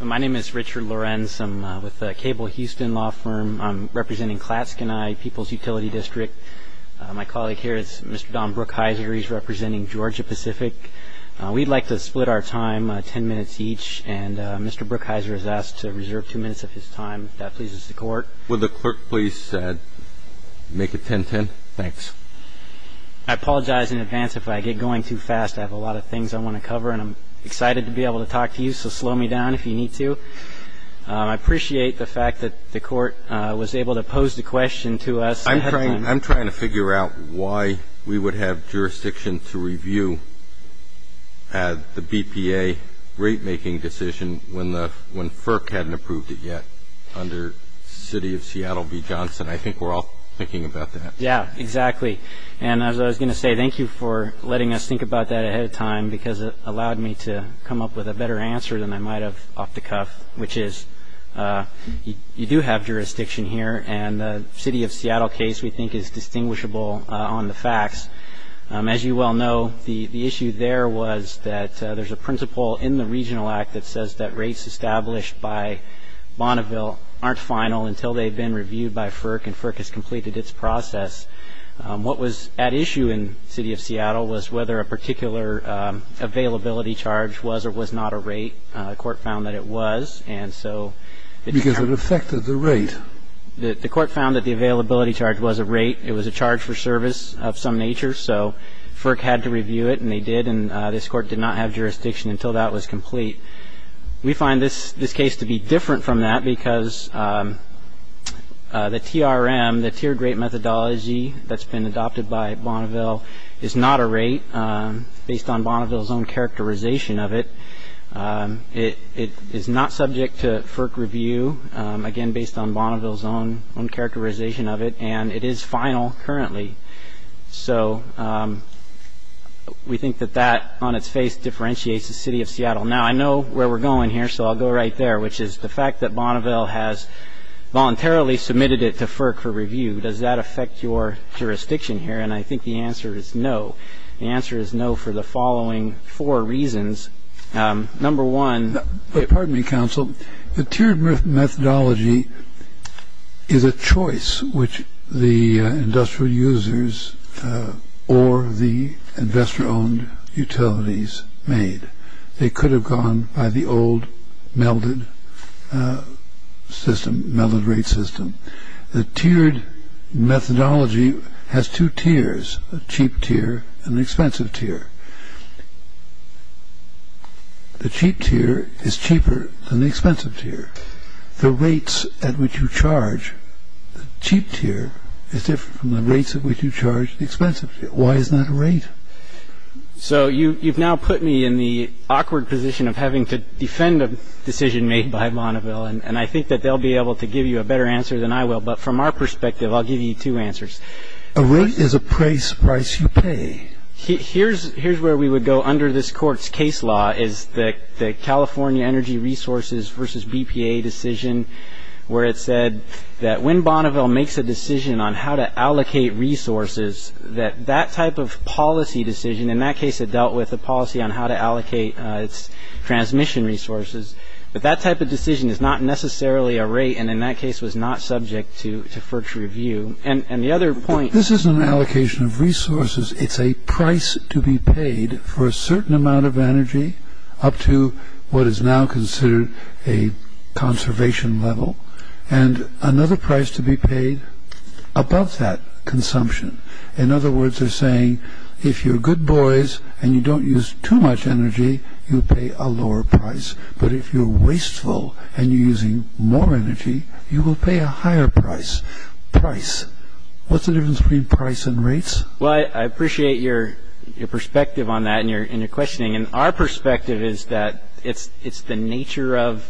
My name is Richard Lorenz. I'm with the Cable Houston Law Firm. I'm representing Klatske and I, People's Utility District. My colleague here is Mr. Don Brookhiser. He's representing Georgia Pacific. We'd like to split our time ten minutes each, and Mr. Brookhiser has asked to reserve two minutes of his time, if that pleases the Court. Would the Clerk please make it 10-10? Thanks. I apologize in advance if I get going too fast. I have a lot of things I want to cover, and I'm excited to be able to talk to you, so slow me down if you need to. I appreciate the fact that the Court was able to pose the question to us ahead of time. I'm trying to figure out why we would have jurisdiction to review the BPA rate-making decision when FERC hadn't approved it yet under City of Seattle v. Johnson. I think we're all thinking about that. Yeah, exactly. And as I was going to say, thank you for letting us think about that ahead of time because it allowed me to come up with a better answer than I might have off the cuff, which is you do have jurisdiction here, and the City of Seattle case, we think, is distinguishable on the facts. As you well know, the issue there was that there's a principle in the Regional Act that says that rates established by Bonneville aren't final until they've been reviewed by FERC and FERC has completed its process. What was at issue in City of Seattle was whether a particular availability charge was or was not a rate. The Court found that it was. Because it affected the rate. The Court found that the availability charge was a rate. It was a charge for service of some nature, so FERC had to review it, and they did, and this Court did not have jurisdiction until that was complete. We find this case to be different from that because the TRM, the tiered rate methodology that's been adopted by Bonneville, is not a rate based on Bonneville's own characterization of it. It is not subject to FERC review, again, based on Bonneville's own characterization of it, and it is final currently. So we think that that, on its face, differentiates the City of Seattle. Now, I know where we're going here, so I'll go right there, which is the fact that Bonneville has voluntarily submitted it to FERC for review. Does that affect your jurisdiction here? And I think the answer is no. The answer is no for the following four reasons. Number one- Pardon me, Counsel. The tiered methodology is a choice which the industrial users or the investor-owned utilities made. They could have gone by the old melded system, melded rate system. The tiered methodology has two tiers, a cheap tier and an expensive tier. The cheap tier is cheaper than the expensive tier. The rates at which you charge the cheap tier is different from the rates at which you charge the expensive tier. Why is that a rate? So you've now put me in the awkward position of having to defend a decision made by Bonneville, and I think that they'll be able to give you a better answer than I will, but from our perspective, I'll give you two answers. A rate is a price you pay. Here's where we would go under this Court's case law is the California Energy Resources v. BPA decision, where it said that when Bonneville makes a decision on how to allocate resources, that that type of policy decision, in that case, it dealt with a policy on how to allocate its transmission resources, but that type of decision is not necessarily a rate and in that case was not subject to first review. And the other point- This isn't an allocation of resources. It's a price to be paid for a certain amount of energy up to what is now considered a conservation level and another price to be paid above that consumption. In other words, they're saying if you're good boys and you don't use too much energy, you pay a lower price, but if you're wasteful and you're using more energy, you will pay a higher price. Price. What's the difference between price and rates? Well, I appreciate your perspective on that and your questioning, and our perspective is that it's the nature of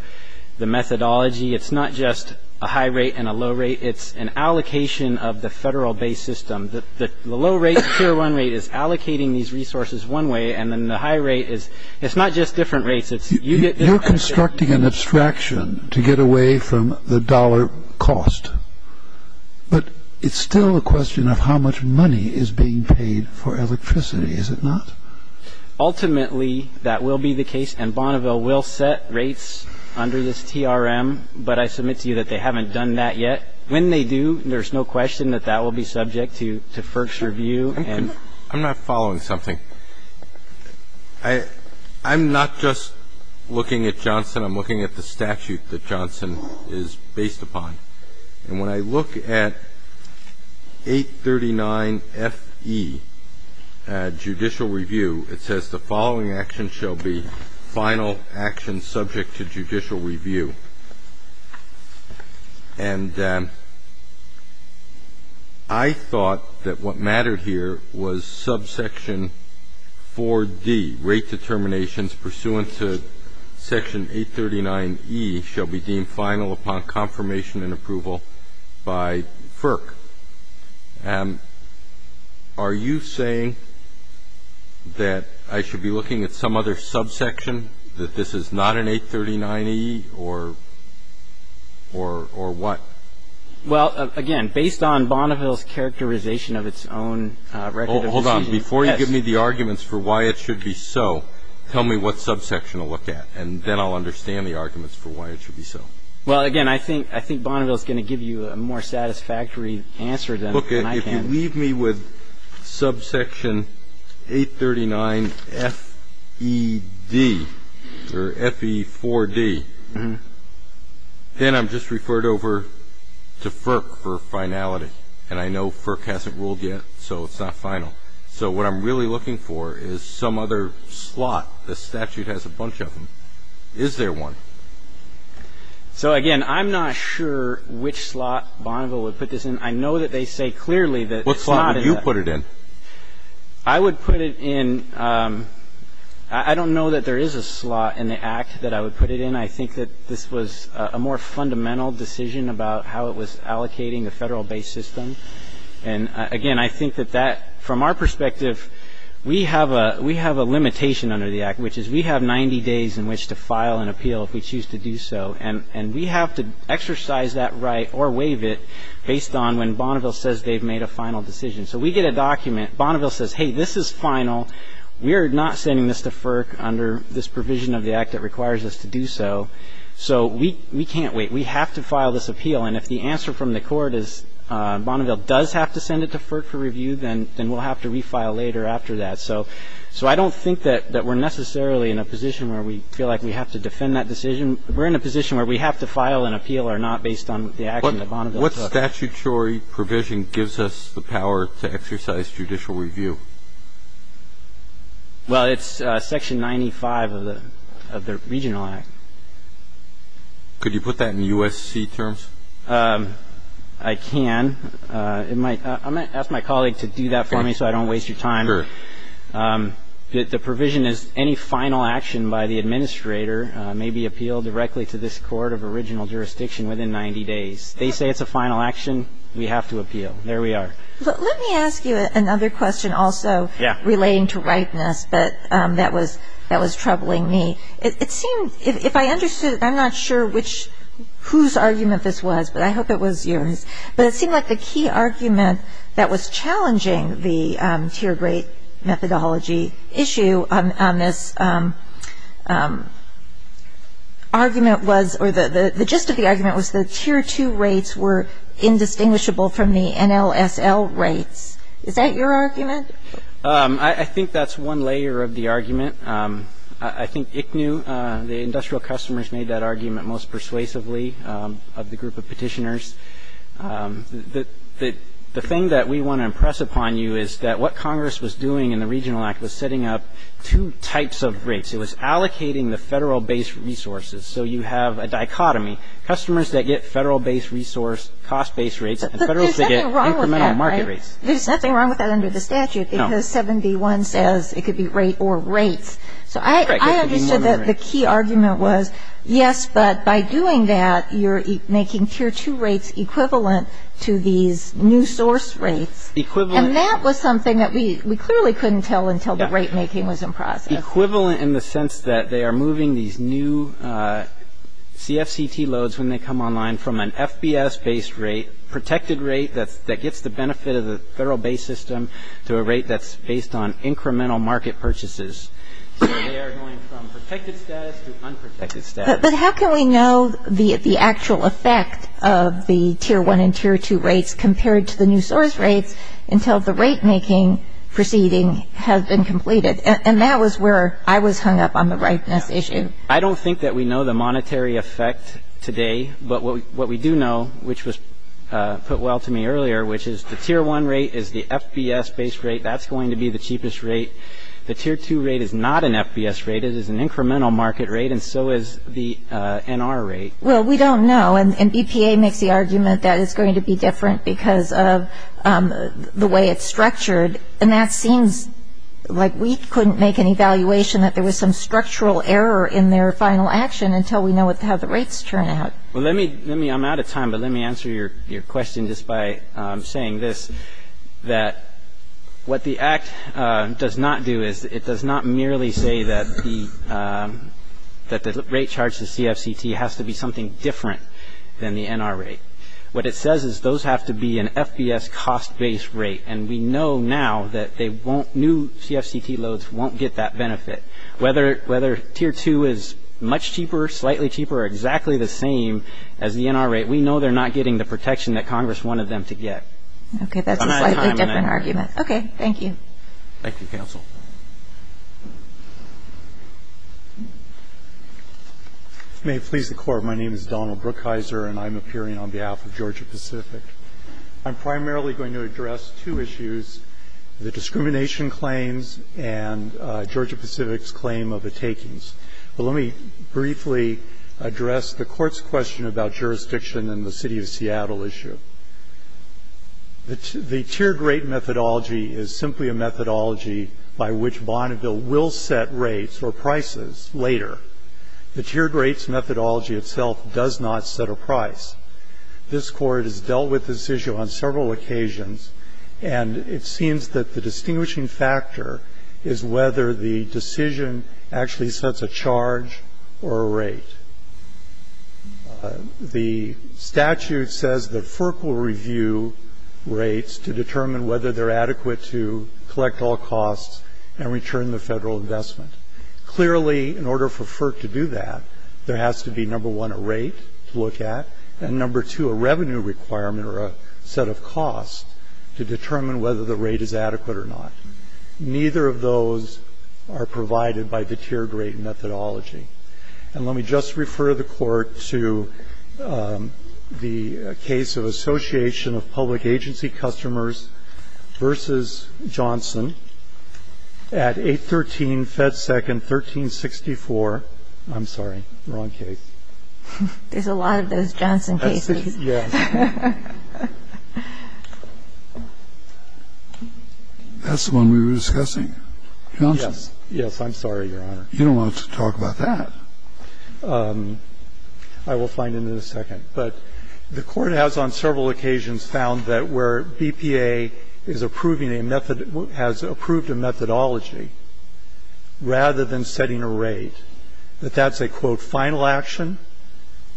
the methodology. It's not just a high rate and a low rate. It's an allocation of the federal base system. The low rate, tier one rate, is allocating these resources one way, and then the high rate is it's not just different rates. You're constructing an abstraction to get away from the dollar cost, but it's still a question of how much money is being paid for electricity, is it not? Ultimately, that will be the case, and Bonneville will set rates under this TRM, but I submit to you that they haven't done that yet. When they do, there's no question that that will be subject to first review. I'm not following something. I'm not just looking at Johnson. I'm looking at the statute that Johnson is based upon, and when I look at 839FE, judicial review, it says the following action shall be final action subject to judicial review, and I thought that what mattered here was subsection 4D, rate determinations, subsection 4D, rate determinations pursuant to section 839E shall be deemed final upon confirmation and approval by FERC. Are you saying that I should be looking at some other subsection, that this is not an 839E or what? Well, again, based on Bonneville's characterization of its own record of decisions. Before you give me the arguments for why it should be so, tell me what subsection to look at, and then I'll understand the arguments for why it should be so. Well, again, I think Bonneville is going to give you a more satisfactory answer than I can. If you leave me with subsection 839FED or FE4D, then I'm just referred over to FERC for finality, and I know FERC hasn't ruled yet, so it's not final. So what I'm really looking for is some other slot. The statute has a bunch of them. Is there one? So, again, I'm not sure which slot Bonneville would put this in. I know that they say clearly that it's not in the act. What slot would you put it in? I would put it in ñ I don't know that there is a slot in the act that I would put it in. Again, I think that this was a more fundamental decision about how it was allocating the federal-based system. And, again, I think that that, from our perspective, we have a limitation under the act, which is we have 90 days in which to file an appeal if we choose to do so, and we have to exercise that right or waive it based on when Bonneville says they've made a final decision. So we get a document. Bonneville says, hey, this is final. We're not sending this to FERC under this provision of the act that requires us to do so. So we can't wait. We have to file this appeal, and if the answer from the court is Bonneville does have to send it to FERC for review, then we'll have to refile later after that. So I don't think that we're necessarily in a position where we feel like we have to defend that decision. We're in a position where we have to file an appeal or not based on the action that Bonneville took. What statutory provision gives us the power to exercise judicial review? Well, it's Section 95 of the Regional Act. Could you put that in USC terms? I can. I'm going to ask my colleague to do that for me so I don't waste your time. Sure. The provision is any final action by the administrator may be appealed directly to this court of original jurisdiction within 90 days. They say it's a final action. We have to appeal. There we are. Let me ask you another question also relating to ripeness, but that was troubling me. It seems, if I understood, I'm not sure whose argument this was, but I hope it was yours, but it seemed like the key argument that was challenging the tier great methodology issue on this argument was or the gist of the argument was the tier two rates were indistinguishable from the NLSL rates. Is that your argument? I think that's one layer of the argument. I think ICNHU, the industrial customers, made that argument most persuasively of the group of petitioners. The thing that we want to impress upon you is that what Congress was doing in the Regional Act was setting up two types of rates. It was allocating the Federal-based resources so you have a dichotomy, customers that get Federal-based resource, cost-based rates, and Federals that get incremental market rates. But there's nothing wrong with that, right? There's nothing wrong with that under the statute because 71 says it could be rate or rates. So I understood that the key argument was, yes, but by doing that, you're making tier two rates equivalent to these new source rates. And that was something that we clearly couldn't tell until the rate making was in process. Equivalent in the sense that they are moving these new CFCT loads when they come online from an FBS-based rate, protected rate that gets the benefit of the Federal-based system, to a rate that's based on incremental market purchases. So they are going from protected status to unprotected status. But how can we know the actual effect of the tier one and tier two rates compared to the new source rates until the rate making proceeding has been completed? And that was where I was hung up on the ripeness issue. I don't think that we know the monetary effect today. But what we do know, which was put well to me earlier, which is the tier one rate is the FBS-based rate. That's going to be the cheapest rate. The tier two rate is not an FBS rate. It is an incremental market rate, and so is the NR rate. Well, we don't know. And BPA makes the argument that it's going to be different because of the way it's structured. And that seems like we couldn't make an evaluation that there was some structural error in their final action until we know how the rates turn out. Well, I'm out of time, but let me answer your question just by saying this, that what the Act does not do is it does not merely say that the rate charged to CFCT has to be something different than the NR rate. What it says is those have to be an FBS cost-based rate. And we know now that new CFCT loads won't get that benefit. Whether tier two is much cheaper, slightly cheaper, or exactly the same as the NR rate, we know they're not getting the protection that Congress wanted them to get. Okay, that's a slightly different argument. Okay, thank you. Thank you, counsel. May it please the Court, my name is Donald Brookhiser, and I'm appearing on behalf of Georgia Pacific. I'm primarily going to address two issues, the discrimination claims and Georgia Pacific's claim of the takings. But let me briefly address the Court's question about jurisdiction in the city of Seattle issue. The tiered rate methodology is simply a methodology by which Bonneville will set rates or prices later. The tiered rates methodology itself does not set a price. This Court has dealt with this issue on several occasions, and it seems that the distinguishing factor is whether the decision actually sets a charge or a rate. The statute says that FERC will review rates to determine whether they're adequate to collect all costs and return the federal investment. Clearly, in order for FERC to do that, there has to be, number one, a rate to look at, and number two, a revenue requirement or a set of costs to determine whether the rate is adequate or not. Neither of those are provided by the tiered rate methodology. And let me just refer the Court to the case of Association of Public Agency Customers v. Johnson at 813 Fed Second 1364. I'm sorry. Wrong case. There's a lot of those Johnson cases. Yes. That's the one we were discussing. Johnson. I'm sorry, Your Honor. You don't want to talk about that. I will find it in a second. But the Court has on several occasions found that where BPA is approving a method or has approved a methodology rather than setting a rate, that that's a, quote, final action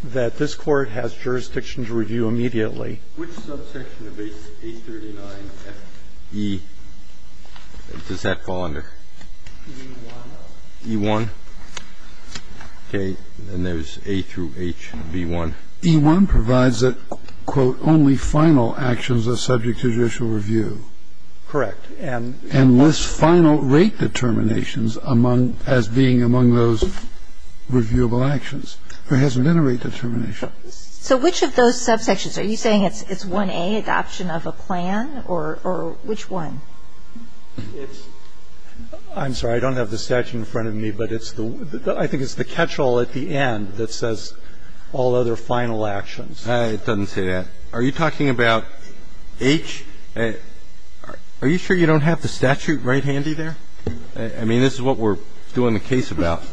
that this Court has jurisdiction to review immediately. Which subsection of A39FE, does that fall under? E1. E1. Okay. And there's A through H, B1. E1 provides that, quote, only final actions are subject to judicial review. Correct. And lists final rate determinations as being among those reviewable actions. There hasn't been a rate determination. So which of those subsections? Are you saying it's 1A, adoption of a plan, or which one? I'm sorry. I don't have the statute in front of me, but I think it's the catchall at the end that says all other final actions. It doesn't say that. Are you talking about H? Are you sure you don't have the statute right handy there? I mean, this is what we're doing the case about.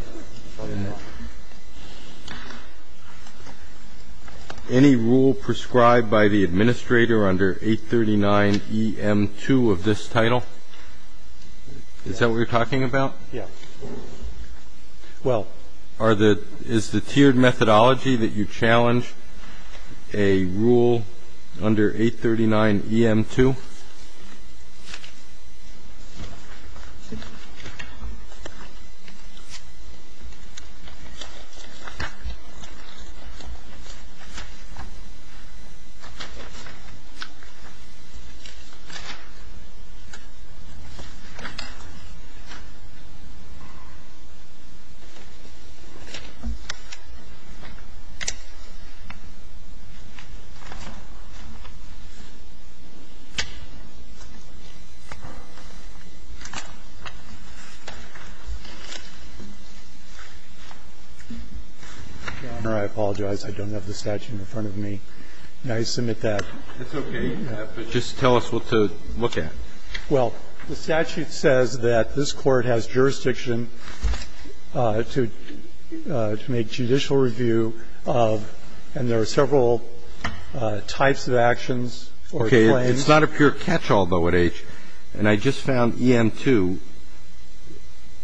Any rule prescribed by the administrator under A39EM2 of this title? Is that what you're talking about? Yeah. Well, are the – is the tiered methodology that you challenge a rule under A39EM2? Thank you. I apologize. I don't have the statute in front of me. May I submit that? That's okay. But just tell us what to look at. Well, the statute says that this Court has jurisdiction to make judicial review of, and there are several types of actions or plans. It's not a pure catchall, though, at H. And I just found EM2.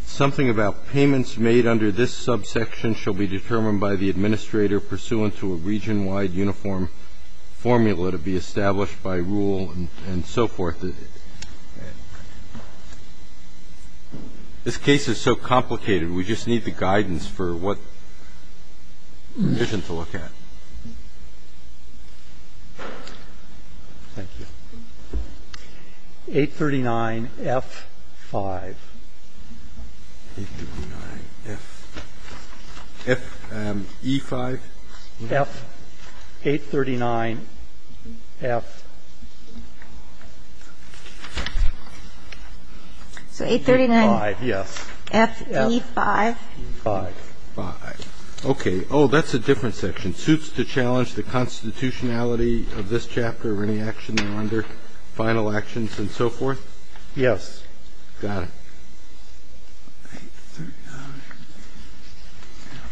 Something about payments made under this subsection shall be determined by the administrator pursuant to a region-wide uniform formula to be established by rule and so forth. This case is so complicated, we just need the guidance for what provision to look at. Thank you. 839F5. 839F – F – E5? F – 839F. So 839F – E5. Yes. F – E5. E5. E5. Okay. Oh, that's a different section. Suits to challenge the constitutionality of this chapter or any action they're under, final actions and so forth? Yes. Got it.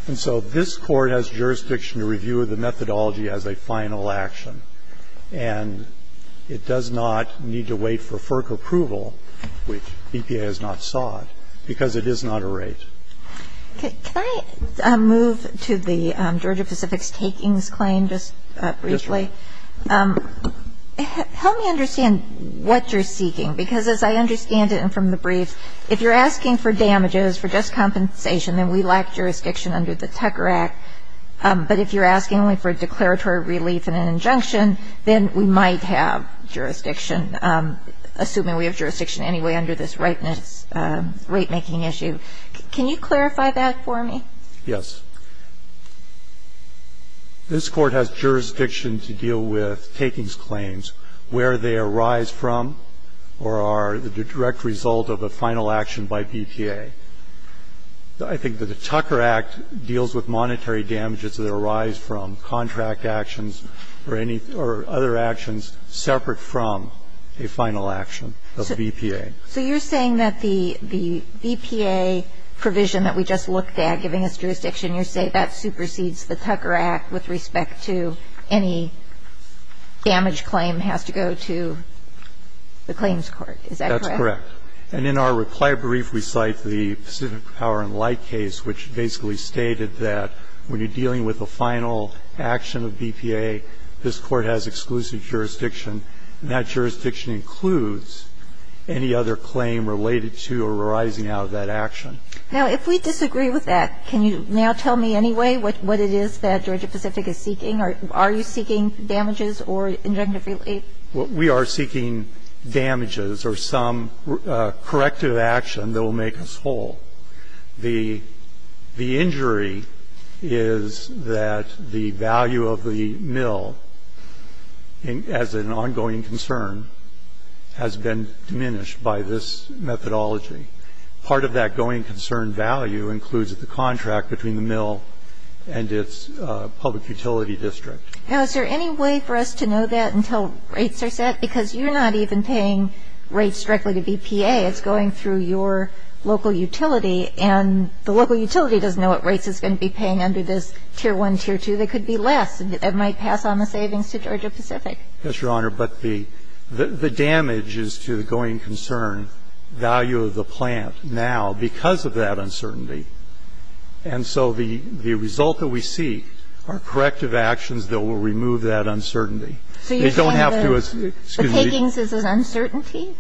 And so this Court has jurisdiction to review the methodology as a final action, and it does not need to wait for FERC approval, which BPA has not sought, because it is not a rate. Okay. Can I move to the Georgia Pacific's takings claim just briefly? Yes. Help me understand what you're seeking, because as I understand it from the brief, if you're asking for damages, for just compensation, then we lack jurisdiction under the Tucker Act. But if you're asking only for declaratory relief and an injunction, then we might have jurisdiction, assuming we have jurisdiction anyway under this rateness ratemaking issue. Can you clarify that for me? Yes. This Court has jurisdiction to deal with takings claims, where they arise from or are the direct result of a final action by BPA. I think that the Tucker Act deals with monetary damages that arise from contract actions or any other actions separate from a final action of BPA. So you're saying that the BPA provision that we just looked at, giving us jurisdiction, you're saying that supersedes the Tucker Act with respect to any damage claim has to go to the claims court. Is that correct? That's correct. And in our reply brief, we cite the Pacific Power and Light case, which basically stated that when you're dealing with a final action of BPA, this Court has exclusive jurisdiction, and that jurisdiction includes any other claim related to or arising out of that action. Now, if we disagree with that, can you now tell me anyway what it is that Georgia Pacific is seeking, or are you seeking damages or injunctive relief? We are seeking damages or some corrective action that will make us whole. The injury is that the value of the mill as an ongoing concern has been diminished by this methodology. Part of that going concern value includes the contract between the mill and its public utility district. Now, is there any way for us to know that until rates are set? Because you're not even paying rates directly to BPA. It's going through your local utility, and the local utility doesn't know what rates it's going to be paying under this Tier 1, Tier 2. There could be less. It might pass on the savings to Georgia Pacific. Yes, Your Honor. But the damage is to the going concern value of the plant now because of that uncertainty. And so the result that we seek are corrective actions that will remove that uncertainty. So you're saying the takings is an uncertainty?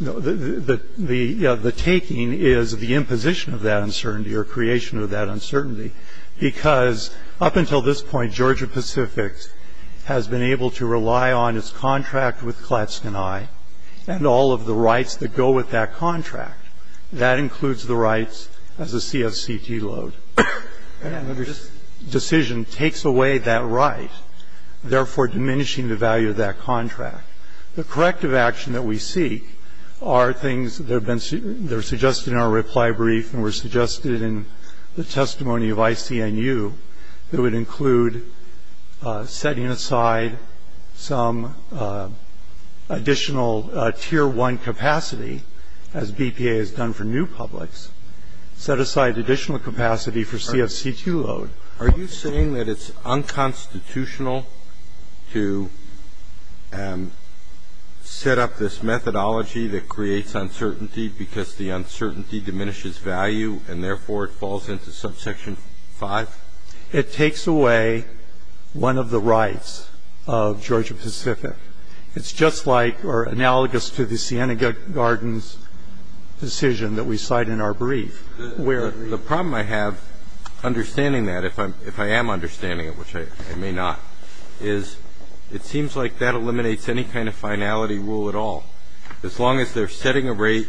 No. The taking is the imposition of that uncertainty or creation of that uncertainty because up until this point, Georgia Pacific has been able to rely on its contract with Klatskan I and all of the rights that go with that contract. That includes the rights as a CSCT load. And this decision takes away that right, therefore diminishing the value of that contract. The corrective action that we seek are things that have been suggested in our reply brief and were suggested in the testimony of ICNU that would include setting aside some additional Tier 1 capacity, as BPA has done for new publics, set aside additional capacity for CSCT load. Are you saying that it's unconstitutional to set up this methodology that creates uncertainty because the uncertainty diminishes value and therefore it falls into subsection 5? It takes away one of the rights of Georgia Pacific. It's just like or analogous to the Siena Gardens decision that we cite in our brief. The problem I have understanding that, if I am understanding it, which I may not, is it seems like that eliminates any kind of finality rule at all. As long as they're setting a rate,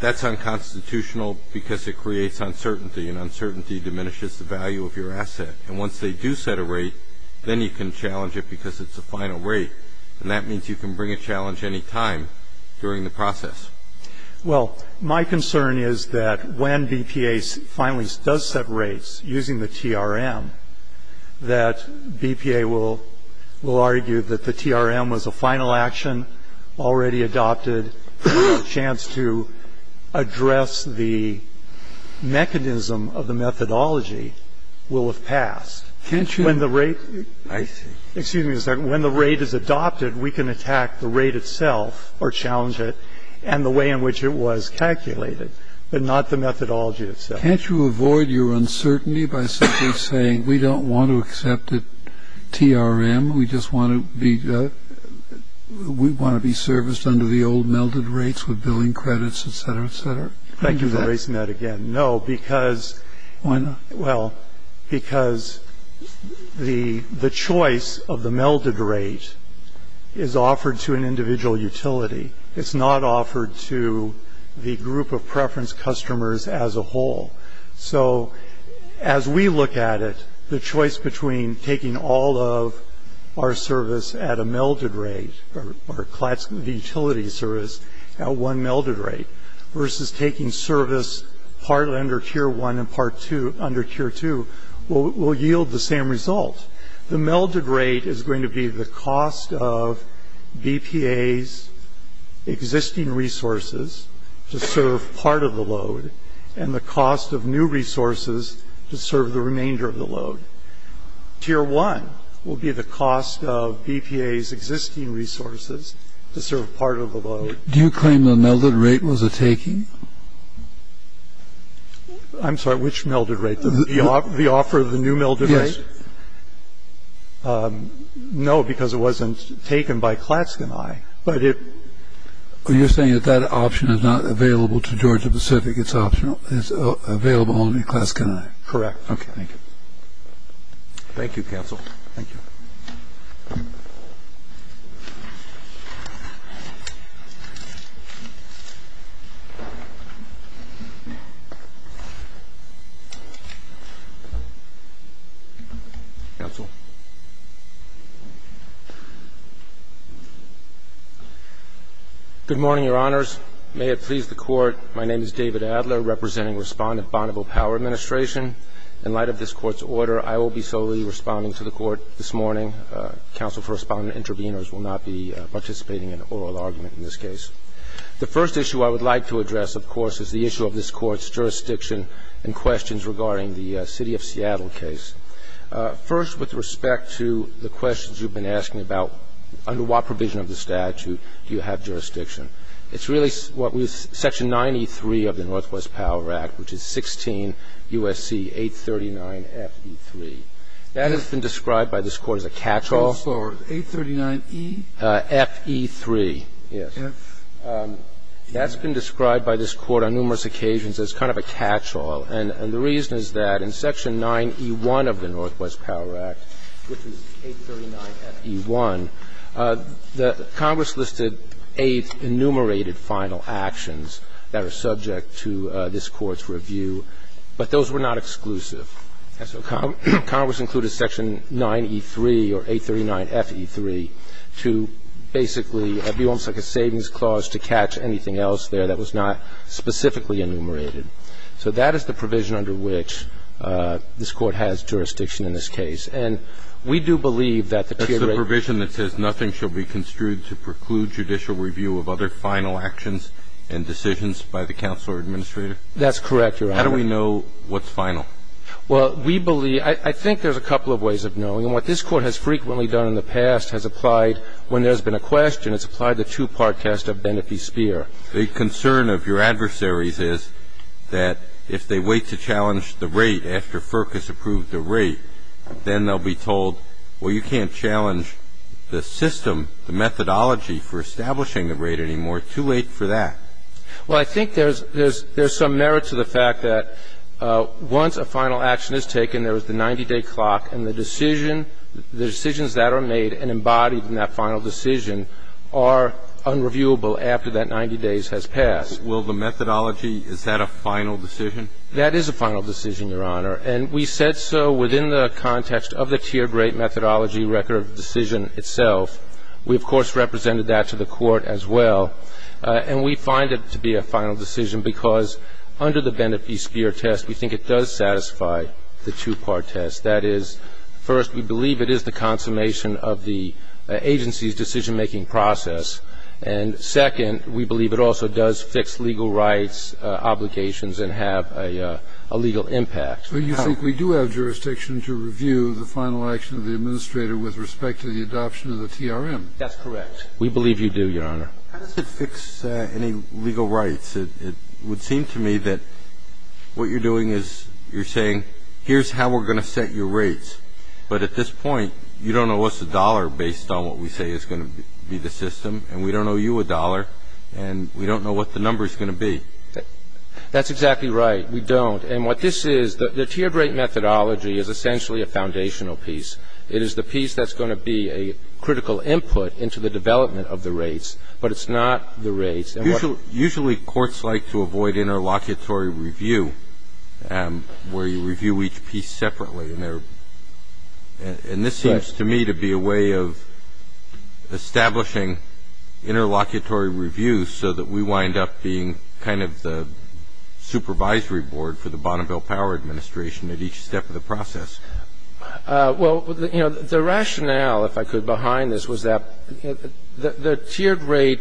that's unconstitutional because it creates uncertainty and uncertainty diminishes the value of your asset. And once they do set a rate, then you can challenge it because it's a final rate. And that means you can bring a challenge any time during the process. Well, my concern is that when BPA finally does set rates using the TRM, that BPA will argue that the TRM was a final action already adopted. A chance to address the mechanism of the methodology will have passed. Can't you? Excuse me a second. When the rate is adopted, we can attack the rate itself or challenge it and the way in which it was calculated, but not the methodology itself. Can't you avoid your uncertainty by simply saying we don't want to accept the TRM? We just want to be serviced under the old melded rates with billing credits, et cetera, et cetera? Thank you for raising that again. No, because... Why not? Well, because the choice of the melded rate is offered to an individual utility. It's not offered to the group of preference customers as a whole. So as we look at it, the choice between taking all of our service at a melded rate or the utility service at one melded rate versus taking service under Tier 1 and under Tier 2 will yield the same result. The melded rate is going to be the cost of BPA's existing resources to serve part of the load and the cost of new resources to serve the remainder of the load. Tier 1 will be the cost of BPA's existing resources to serve part of the load. Do you claim the melded rate was a taking? I'm sorry, which melded rate? The offer of the new melded rate? Yes. No, because it wasn't taken by Klatsk and I, but it... You're saying that that option is not available to Georgia Pacific. It's available only at Klatsk and I. Correct. Okay. Thank you. Thank you, counsel. Thank you. Counsel. Good morning, Your Honors. May it please the Court, my name is David Adler, representing Respondent Bonneville Power Administration. In light of this Court's order, I will be solely responding to the Court this morning. Counsel for Respondent Intervenors will not be participating in oral argument in this case. The first issue I would like to address, of course, is the issue of this Court's jurisdiction and questions regarding the City of Seattle case. First, with respect to the questions you've been asking about under what provision of the statute do you have jurisdiction, it's really what was section 9E3 of the Northwest Power Act, which is 16 U.S.C. 839 F.E.3. That has been described by this Court as a catch-all. 839 E? F.E.3, yes. That's been described by this Court on numerous occasions as kind of a catch-all. And the reason is that in section 9E1 of the Northwest Power Act, which is 839 F.E.1, Congress listed eight enumerated final actions that are subject to this Court's review, but those were not exclusive. So Congress included section 9E3 or 839 F.E.3 to basically be almost like a savings clause to catch anything else there that was not specifically enumerated. So that is the provision under which this Court has jurisdiction in this case. And we do believe that the tiered rate That's the provision that says nothing shall be construed to preclude judicial review of other final actions and decisions by the counsel or administrator? How do we know what's final? Well, we believe, I think there's a couple of ways of knowing. And what this Court has frequently done in the past has applied, when there's been a question, it's applied the two-part test of Benepe Spear. The concern of your adversaries is that if they wait to challenge the rate after FERC has approved the rate, then they'll be told, well, you can't challenge the system, the methodology for establishing the rate anymore. Too late for that. Well, I think there's some merit to the fact that once a final action is taken, there is the 90-day clock. And the decision, the decisions that are made and embodied in that final decision are unreviewable after that 90 days has passed. Will the methodology, is that a final decision? That is a final decision, Your Honor. And we said so within the context of the tiered rate methodology record decision itself. We, of course, represented that to the Court as well. And we find it to be a final decision because under the Benepe Spear test, we think it does satisfy the two-part test. That is, first, we believe it is the consummation of the agency's decision-making process. And second, we believe it also does fix legal rights obligations and have a legal impact. But you think we do have jurisdiction to review the final action of the administrator with respect to the adoption of the TRM? That's correct. We believe you do, Your Honor. How does it fix any legal rights? It would seem to me that what you're doing is you're saying, here's how we're going to set your rates. But at this point, you don't know what's a dollar based on what we say is going to be the system. And we don't owe you a dollar. And we don't know what the number is going to be. That's exactly right. We don't. And what this is, the tiered rate methodology is essentially a foundational piece. It is the piece that's going to be a critical input into the development of the rates. But it's not the rates. Usually courts like to avoid interlocutory review, where you review each piece separately. And this seems to me to be a way of establishing interlocutory review so that we wind up being kind of the supervisory board for the Bonneville Power Administration at each step of the process. Well, you know, the rationale, if I could, behind this was that the tiered rate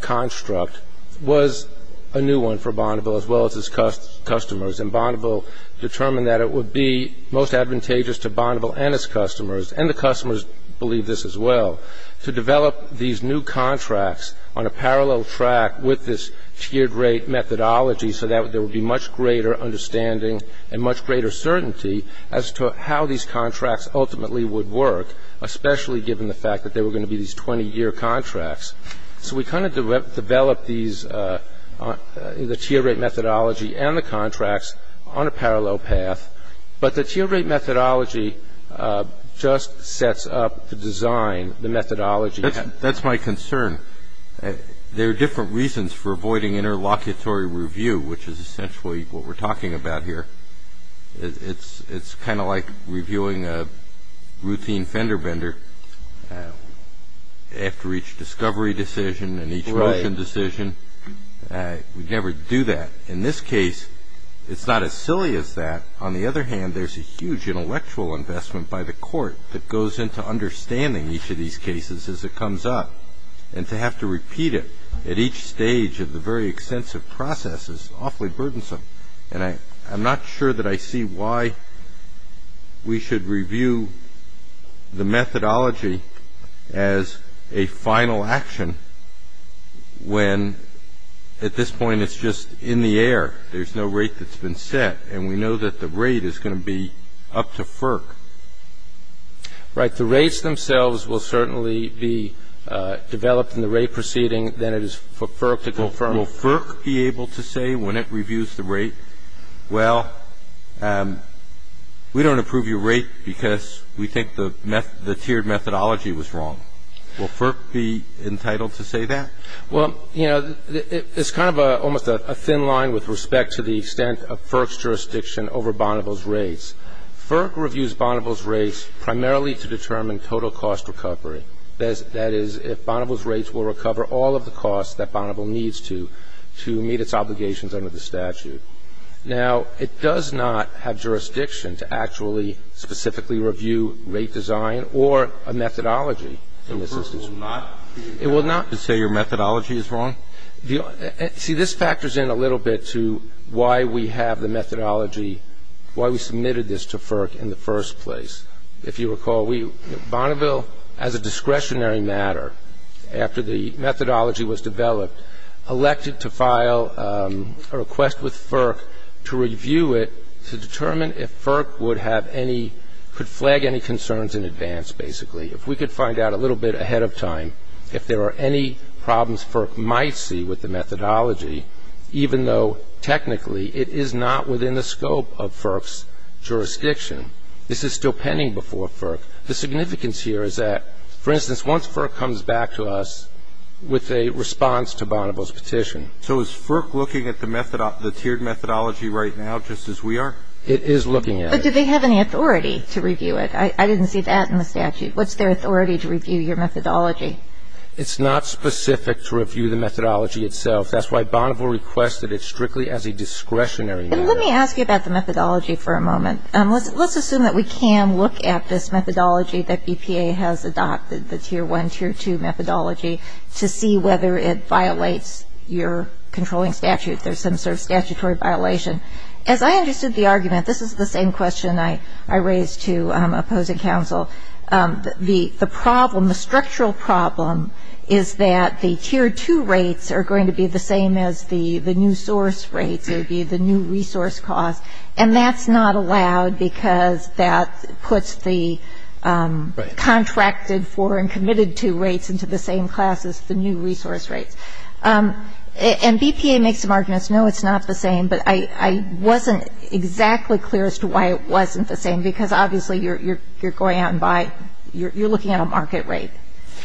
construct was a new one for Bonneville as well as its customers. And Bonneville determined that it would be most advantageous to Bonneville and its customers, and the customers believe this as well, to develop these new contracts on a parallel track with this tiered rate methodology so that there would be much greater understanding and much greater certainty as to how these contracts ultimately would work, especially given the fact that there were going to be these 20-year contracts. So we kind of developed these, the tiered rate methodology and the contracts on a parallel path. But the tiered rate methodology just sets up the design, the methodology. That's my concern. There are different reasons for avoiding interlocutory review, which is essentially what we're talking about here. It's kind of like reviewing a routine fender bender after each discovery decision and each motion decision. We never do that. In this case, it's not as silly as that. On the other hand, there's a huge intellectual investment by the court that goes into understanding each of these cases as it comes up. And to have to repeat it at each stage of the very extensive process is awfully burdensome. And I'm not sure that I see why we should review the methodology as a final action when, at this point, it's just in the air. There's no rate that's been set. And we know that the rate is going to be up to FERC. Right. The rates themselves will certainly be developed in the rate proceeding, then it is for FERC to confirm. Will FERC be able to say when it reviews the rate, well, we don't approve your rate because we think the tiered methodology was wrong? Will FERC be entitled to say that? Well, you know, it's kind of almost a thin line with respect to the extent of FERC's jurisdiction over Bonneville's rates. FERC reviews Bonneville's rates primarily to determine total cost recovery. That is, if Bonneville's rates will recover all of the costs that Bonneville needs to, to meet its obligations under the statute. Now, it does not have jurisdiction to actually specifically review rate design or a methodology in this instance. So FERC will not be entitled to say your methodology is wrong? See, this factors in a little bit to why we have the methodology, why we submitted this to FERC in the first place. If you recall, we, Bonneville, as a discretionary matter, after the methodology was developed, elected to file a request with FERC to review it to determine if FERC would have any, could flag any concerns in advance, basically. If we could find out a little bit ahead of time if there are any problems FERC might see with the methodology, even though technically it is not within the scope of FERC's jurisdiction, this is still pending before FERC. The significance here is that, for instance, once FERC comes back to us with a response to Bonneville's petition. So is FERC looking at the tiered methodology right now just as we are? It is looking at it. But do they have any authority to review it? I didn't see that in the statute. What's their authority to review your methodology? It's not specific to review the methodology itself. That's why Bonneville requested it strictly as a discretionary matter. Let me ask you about the methodology for a moment. Let's assume that we can look at this methodology that BPA has adopted, the tier 1, tier 2 methodology, to see whether it violates your controlling statute. There's some sort of statutory violation. As I understood the argument, this is the same question I raised to opposing counsel. The problem, the structural problem is that the tier 2 rates are going to be the same as the new source rates. It would be the new resource cost. And that's not allowed because that puts the contracted for and committed to rates into the same class as the new resource rates. And BPA makes some arguments, no, it's not the same. But I wasn't exactly clear as to why it wasn't the same because, obviously, you're going out and buying, you're looking at a market rate.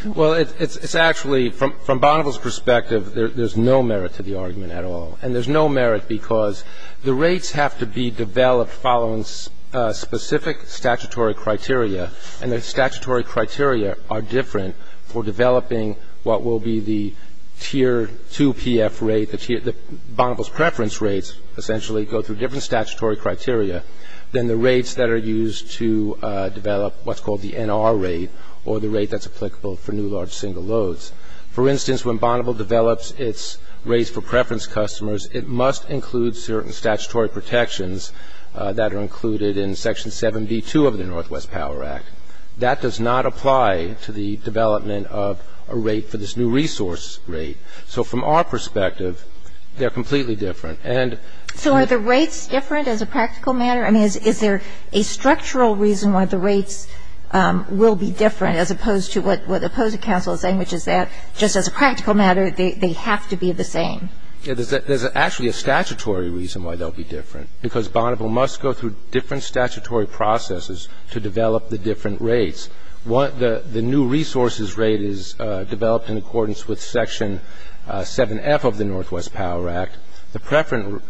Well, it's actually, from Bonneville's perspective, there's no merit to the argument at all. And there's no merit because the rates have to be developed following specific statutory criteria. And the statutory criteria are different for developing what will be the tier 2 PF rate. Bonneville's preference rates essentially go through different statutory criteria than the rates that are used to develop what's called the NR rate or the rate that's applicable for new large single loads. For instance, when Bonneville develops its rates for preference customers, it must include certain statutory protections that are included in Section 7b2 of the Northwest Power Act. That does not apply to the development of a rate for this new resource rate. So from our perspective, they're completely different. And so are the rates different as a practical matter? I mean, is there a structural reason why the rates will be different as opposed to what the opposing counsel is saying, which is that just as a practical matter, they have to be the same? Yeah, there's actually a statutory reason why they'll be different because Bonneville must go through different statutory processes to develop the different rates. The new resources rate is developed in accordance with Section 7f of the Northwest Power Act. The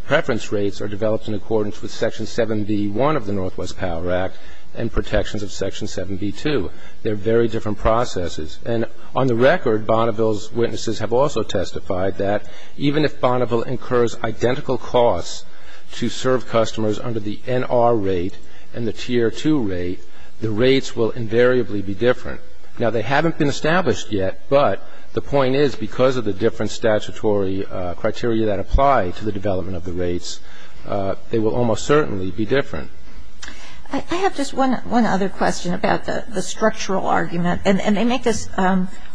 preference rates are developed in accordance with Section 7b1 of the Northwest Power Act and protections of Section 7b2. They're very different processes. And on the record, Bonneville's witnesses have also testified that even if Bonneville incurs identical costs to serve customers under the NR rate and the Tier 2 rate, the rates will invariably be different. Now, they haven't been established yet, but the point is that because of the different statutory criteria that apply to the development of the rates, they will almost certainly be different. I have just one other question about the structural argument. And they make this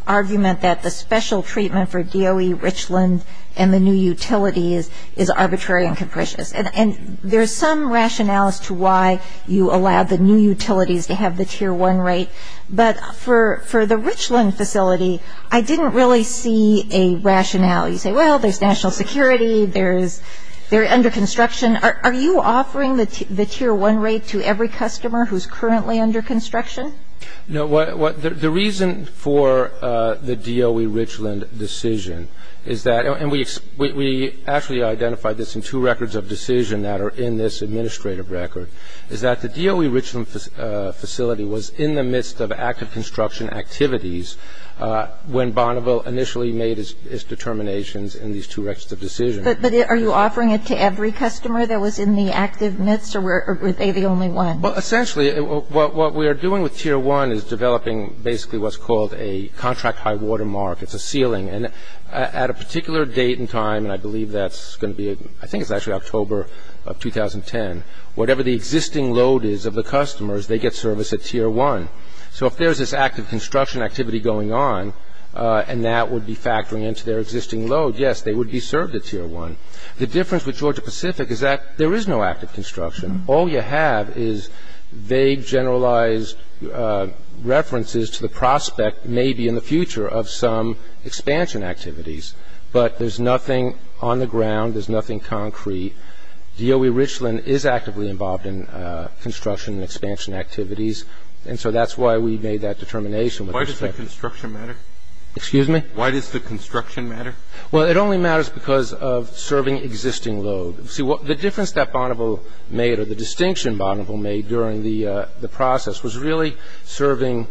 argument that the special treatment for DOE, Richland, and the new utilities is arbitrary and capricious. And there's some rationales to why you allow the new utilities to have the Tier 1 rate. But for the Richland facility, I didn't really see a rationale. You say, well, there's national security. They're under construction. Are you offering the Tier 1 rate to every customer who's currently under construction? No. The reason for the DOE Richland decision is that, and we actually identified this in two records of decision that are in this administrative record, is that the DOE Richland facility was in the midst of active construction activities when Bonneville initially made its determinations in these two records of decision. But are you offering it to every customer that was in the active midst, or were they the only one? Well, essentially, what we are doing with Tier 1 is developing basically what's called a contract high watermark. It's a ceiling. And at a particular date and time, and I believe that's going to be, I think it's actually October of 2010, whatever the existing load is of the customers, they get service at Tier 1. So if there's this active construction activity going on, and that would be factoring into their existing load, yes, they would be served at Tier 1. The difference with Georgia Pacific is that there is no active construction. All you have is vague, generalized references to the prospect, maybe in the future, of some expansion activities. But there's nothing on the ground. There's nothing concrete. DOE Richland is actively involved in construction and expansion activities. And so that's why we made that determination. Why does the construction matter? Excuse me? Why does the construction matter? Well, it only matters because of serving existing load. See, the difference that Bonneville made or the distinction Bonneville made during the process was really serving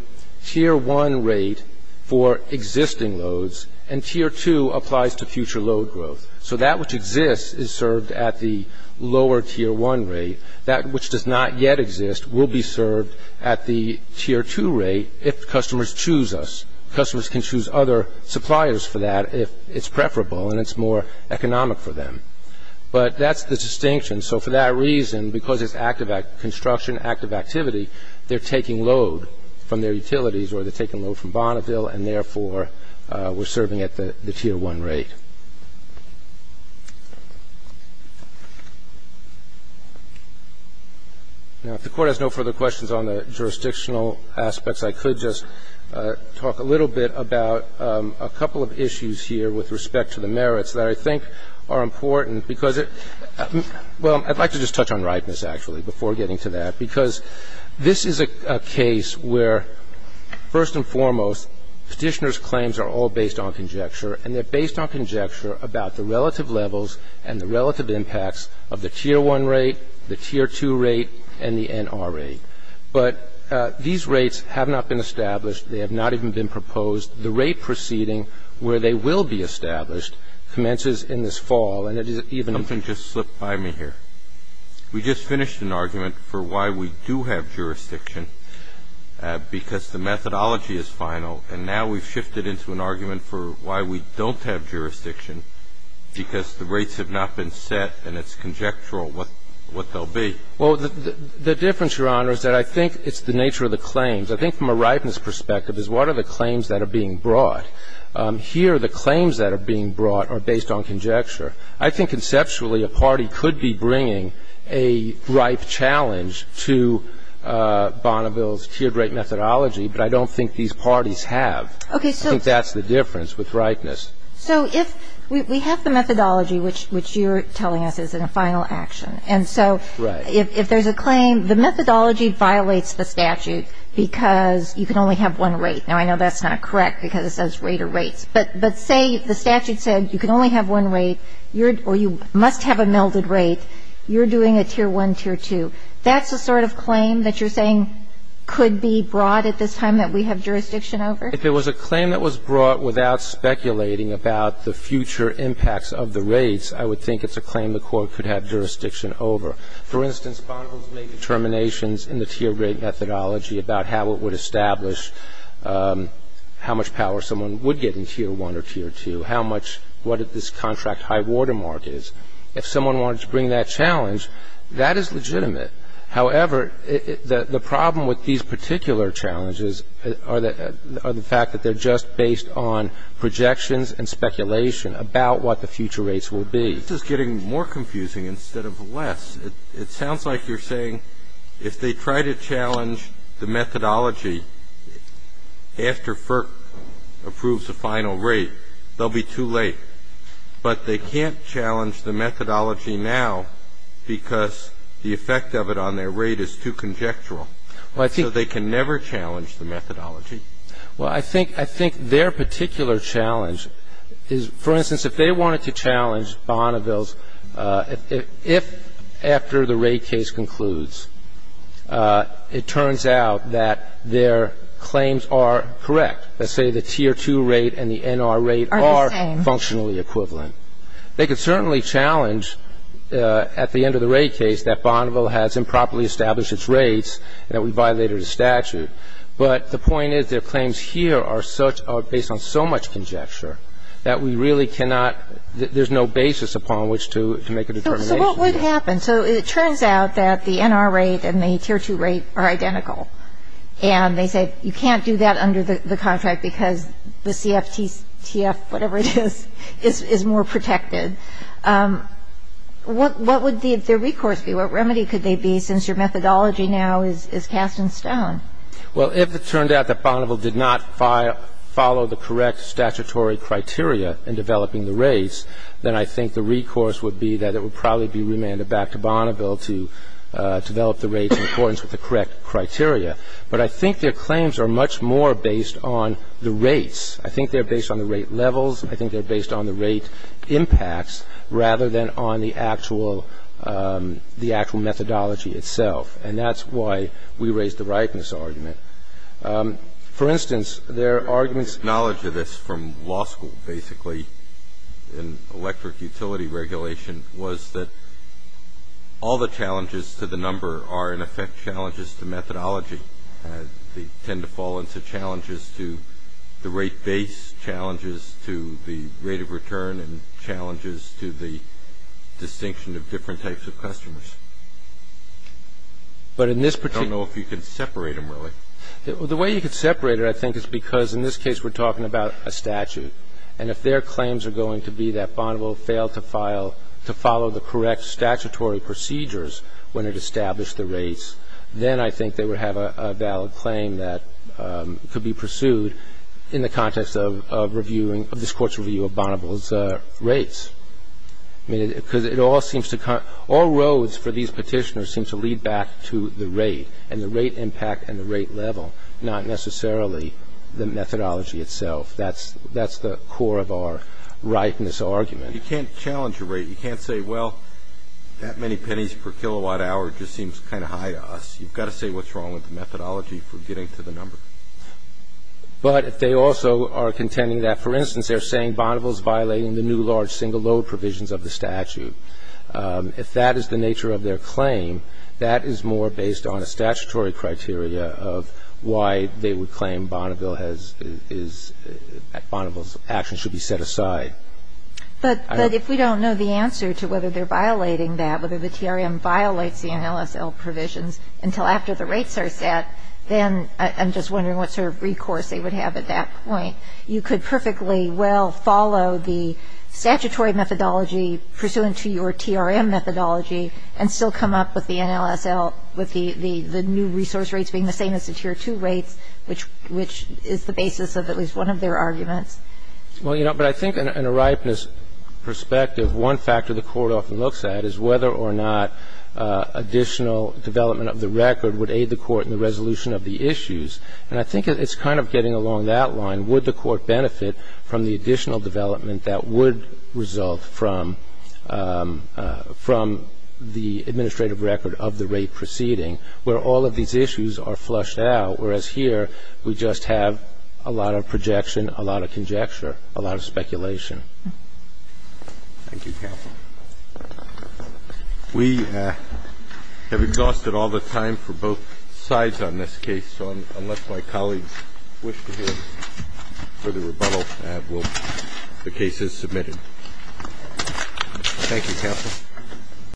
Tier 1 rate for existing loads, and Tier 2 applies to future load growth. So that which exists is served at the lower Tier 1 rate. That which does not yet exist will be served at the Tier 2 rate if customers choose us. Customers can choose other suppliers for that if it's preferable and it's more economic for them. But that's the distinction. So for that reason, because it's active construction, active activity, they're taking load from their utilities or they're taking load from Bonneville, and therefore, we're serving at the Tier 1 rate. Now, if the Court has no further questions on the jurisdictional aspects, I could just talk a little bit about a couple of issues here with respect to the merits that I think are important because it – well, I'd like to just touch on ripeness, actually, before getting to that, because this is a case where, first and foremost, Petitioner's claims are all based on conjecture, and they're based on conjecture about the relative levels and the relative impacts of the Tier 1 rate, the Tier 2 rate, and the NR rate. But these rates have not been established. They have not even been proposed. The rate proceeding where they will be established commences in this fall, and it is even Something just slipped by me here. We just finished an argument for why we do have jurisdiction, because the methodology is final, and now we've shifted into an argument for why we don't have jurisdiction, because the rates have not been set and it's conjectural what they'll be. Well, the difference, Your Honor, is that I think it's the nature of the claims. I think from a ripeness perspective is what are the claims that are being brought? Here, the claims that are being brought are based on conjecture. I think, conceptually, a party could be bringing a ripe challenge to Bonneville's tiered rate methodology, but I don't think these parties have. I think that's the difference with ripeness. So if we have the methodology, which you're telling us is in a final action, and so if there's a claim, the methodology violates the statute because you can only have one rate. Now, I know that's not correct because it says rate of rates, but say the statute said you can only have one rate, or you must have a melded rate, you're doing a tier 1, tier 2. That's the sort of claim that you're saying could be brought at this time that we have jurisdiction over? If it was a claim that was brought without speculating about the future impacts of the rates, I would think it's a claim the Court could have jurisdiction over. For instance, Bonneville's made determinations in the tiered rate methodology about how it would establish how much power someone would get in tier 1 or tier 2, how much what this contract high water mark is. If someone wanted to bring that challenge, that is legitimate. However, the problem with these particular challenges are the fact that they're just based on projections and speculation about what the future rates will be. This is getting more confusing instead of less. It sounds like you're saying if they try to challenge the methodology after FERC approves a final rate, they'll be too late. But they can't challenge the methodology now because the effect of it on their rate is too conjectural. So they can never challenge the methodology. Well, I think their particular challenge is, for instance, if they wanted to challenge Bonneville's, if after the rate case concludes, it turns out that their claims are correct, let's say the tier 2 rate and the NR rate are functionally equivalent. They could certainly challenge at the end of the rate case that Bonneville has improperly established its rates and that we violated a statute. But the point is their claims here are such, are based on so much conjecture that we really cannot, there's no basis upon which to make a determination. So what would happen? So it turns out that the NR rate and the tier 2 rate are identical. And they said you can't do that under the contract because the CFTF, whatever it is, is more protected. What would their recourse be? What remedy could they be since your methodology now is cast in stone? Well, if it turned out that Bonneville did not follow the correct statutory criteria in developing the rates, then I think the recourse would be that it would probably be remanded back to Bonneville to develop the rates in accordance with the correct criteria. But I think their claims are much more based on the rates. I think they're based on the rate levels. I think they're based on the rate impacts rather than on the actual methodology itself. And that's why we raised the rightness argument. For instance, there are arguments. My knowledge of this from law school, basically, in electric utility regulation, was that all the challenges to the number are, in effect, challenges to methodology. They tend to fall into challenges to the rate base, challenges to the rate of return, and challenges to the distinction of different types of customers. I don't know if you can separate them really. The way you could separate it, I think, is because in this case we're talking about a statute. And if their claims are going to be that Bonneville failed to file to follow the correct statutory procedures when it established the rates, then I think they would have a valid claim that could be pursued in the context of reviewing of this Court's review of Bonneville's rates. I mean, because it all seems to all roads for these Petitioners seems to lead back to the rate and the rate impact and the rate level, not necessarily the methodology itself. That's the core of our rightness argument. You can't challenge a rate. You can't say, well, that many pennies per kilowatt hour just seems kind of high to us. You've got to say what's wrong with the methodology for getting to the number. But if they also are contending that, for instance, they're saying Bonneville's violating the new large single load provisions of the statute, if that is the nature of their claim, that is more based on a statutory criteria of why they would claim Bonneville has – Bonneville's actions should be set aside. I don't know. But if we don't know the answer to whether they're violating that, whether the TRM violates the NLSL provisions until after the rates are set, then I'm just wondering what sort of recourse they would have at that point. You could perfectly well follow the statutory methodology pursuant to your TRM methodology and still come up with the NLSL with the new resource rates being the same as the Tier 2 rates, which is the basis of at least one of their arguments. Well, you know, but I think in a rightness perspective, one factor the Court often looks at is whether or not additional development of the record would aid the Court in the resolution of the issues. And I think it's kind of getting along that line. Would the Court benefit from the additional development that would result from the administrative record of the rate proceeding where all of these issues are flushed out, whereas here we just have a lot of projection, a lot of conjecture, a lot of speculation. Thank you, counsel. We have exhausted all the time for both sides on this case, so unless my colleagues wish to hear further rebuttal, the case is submitted.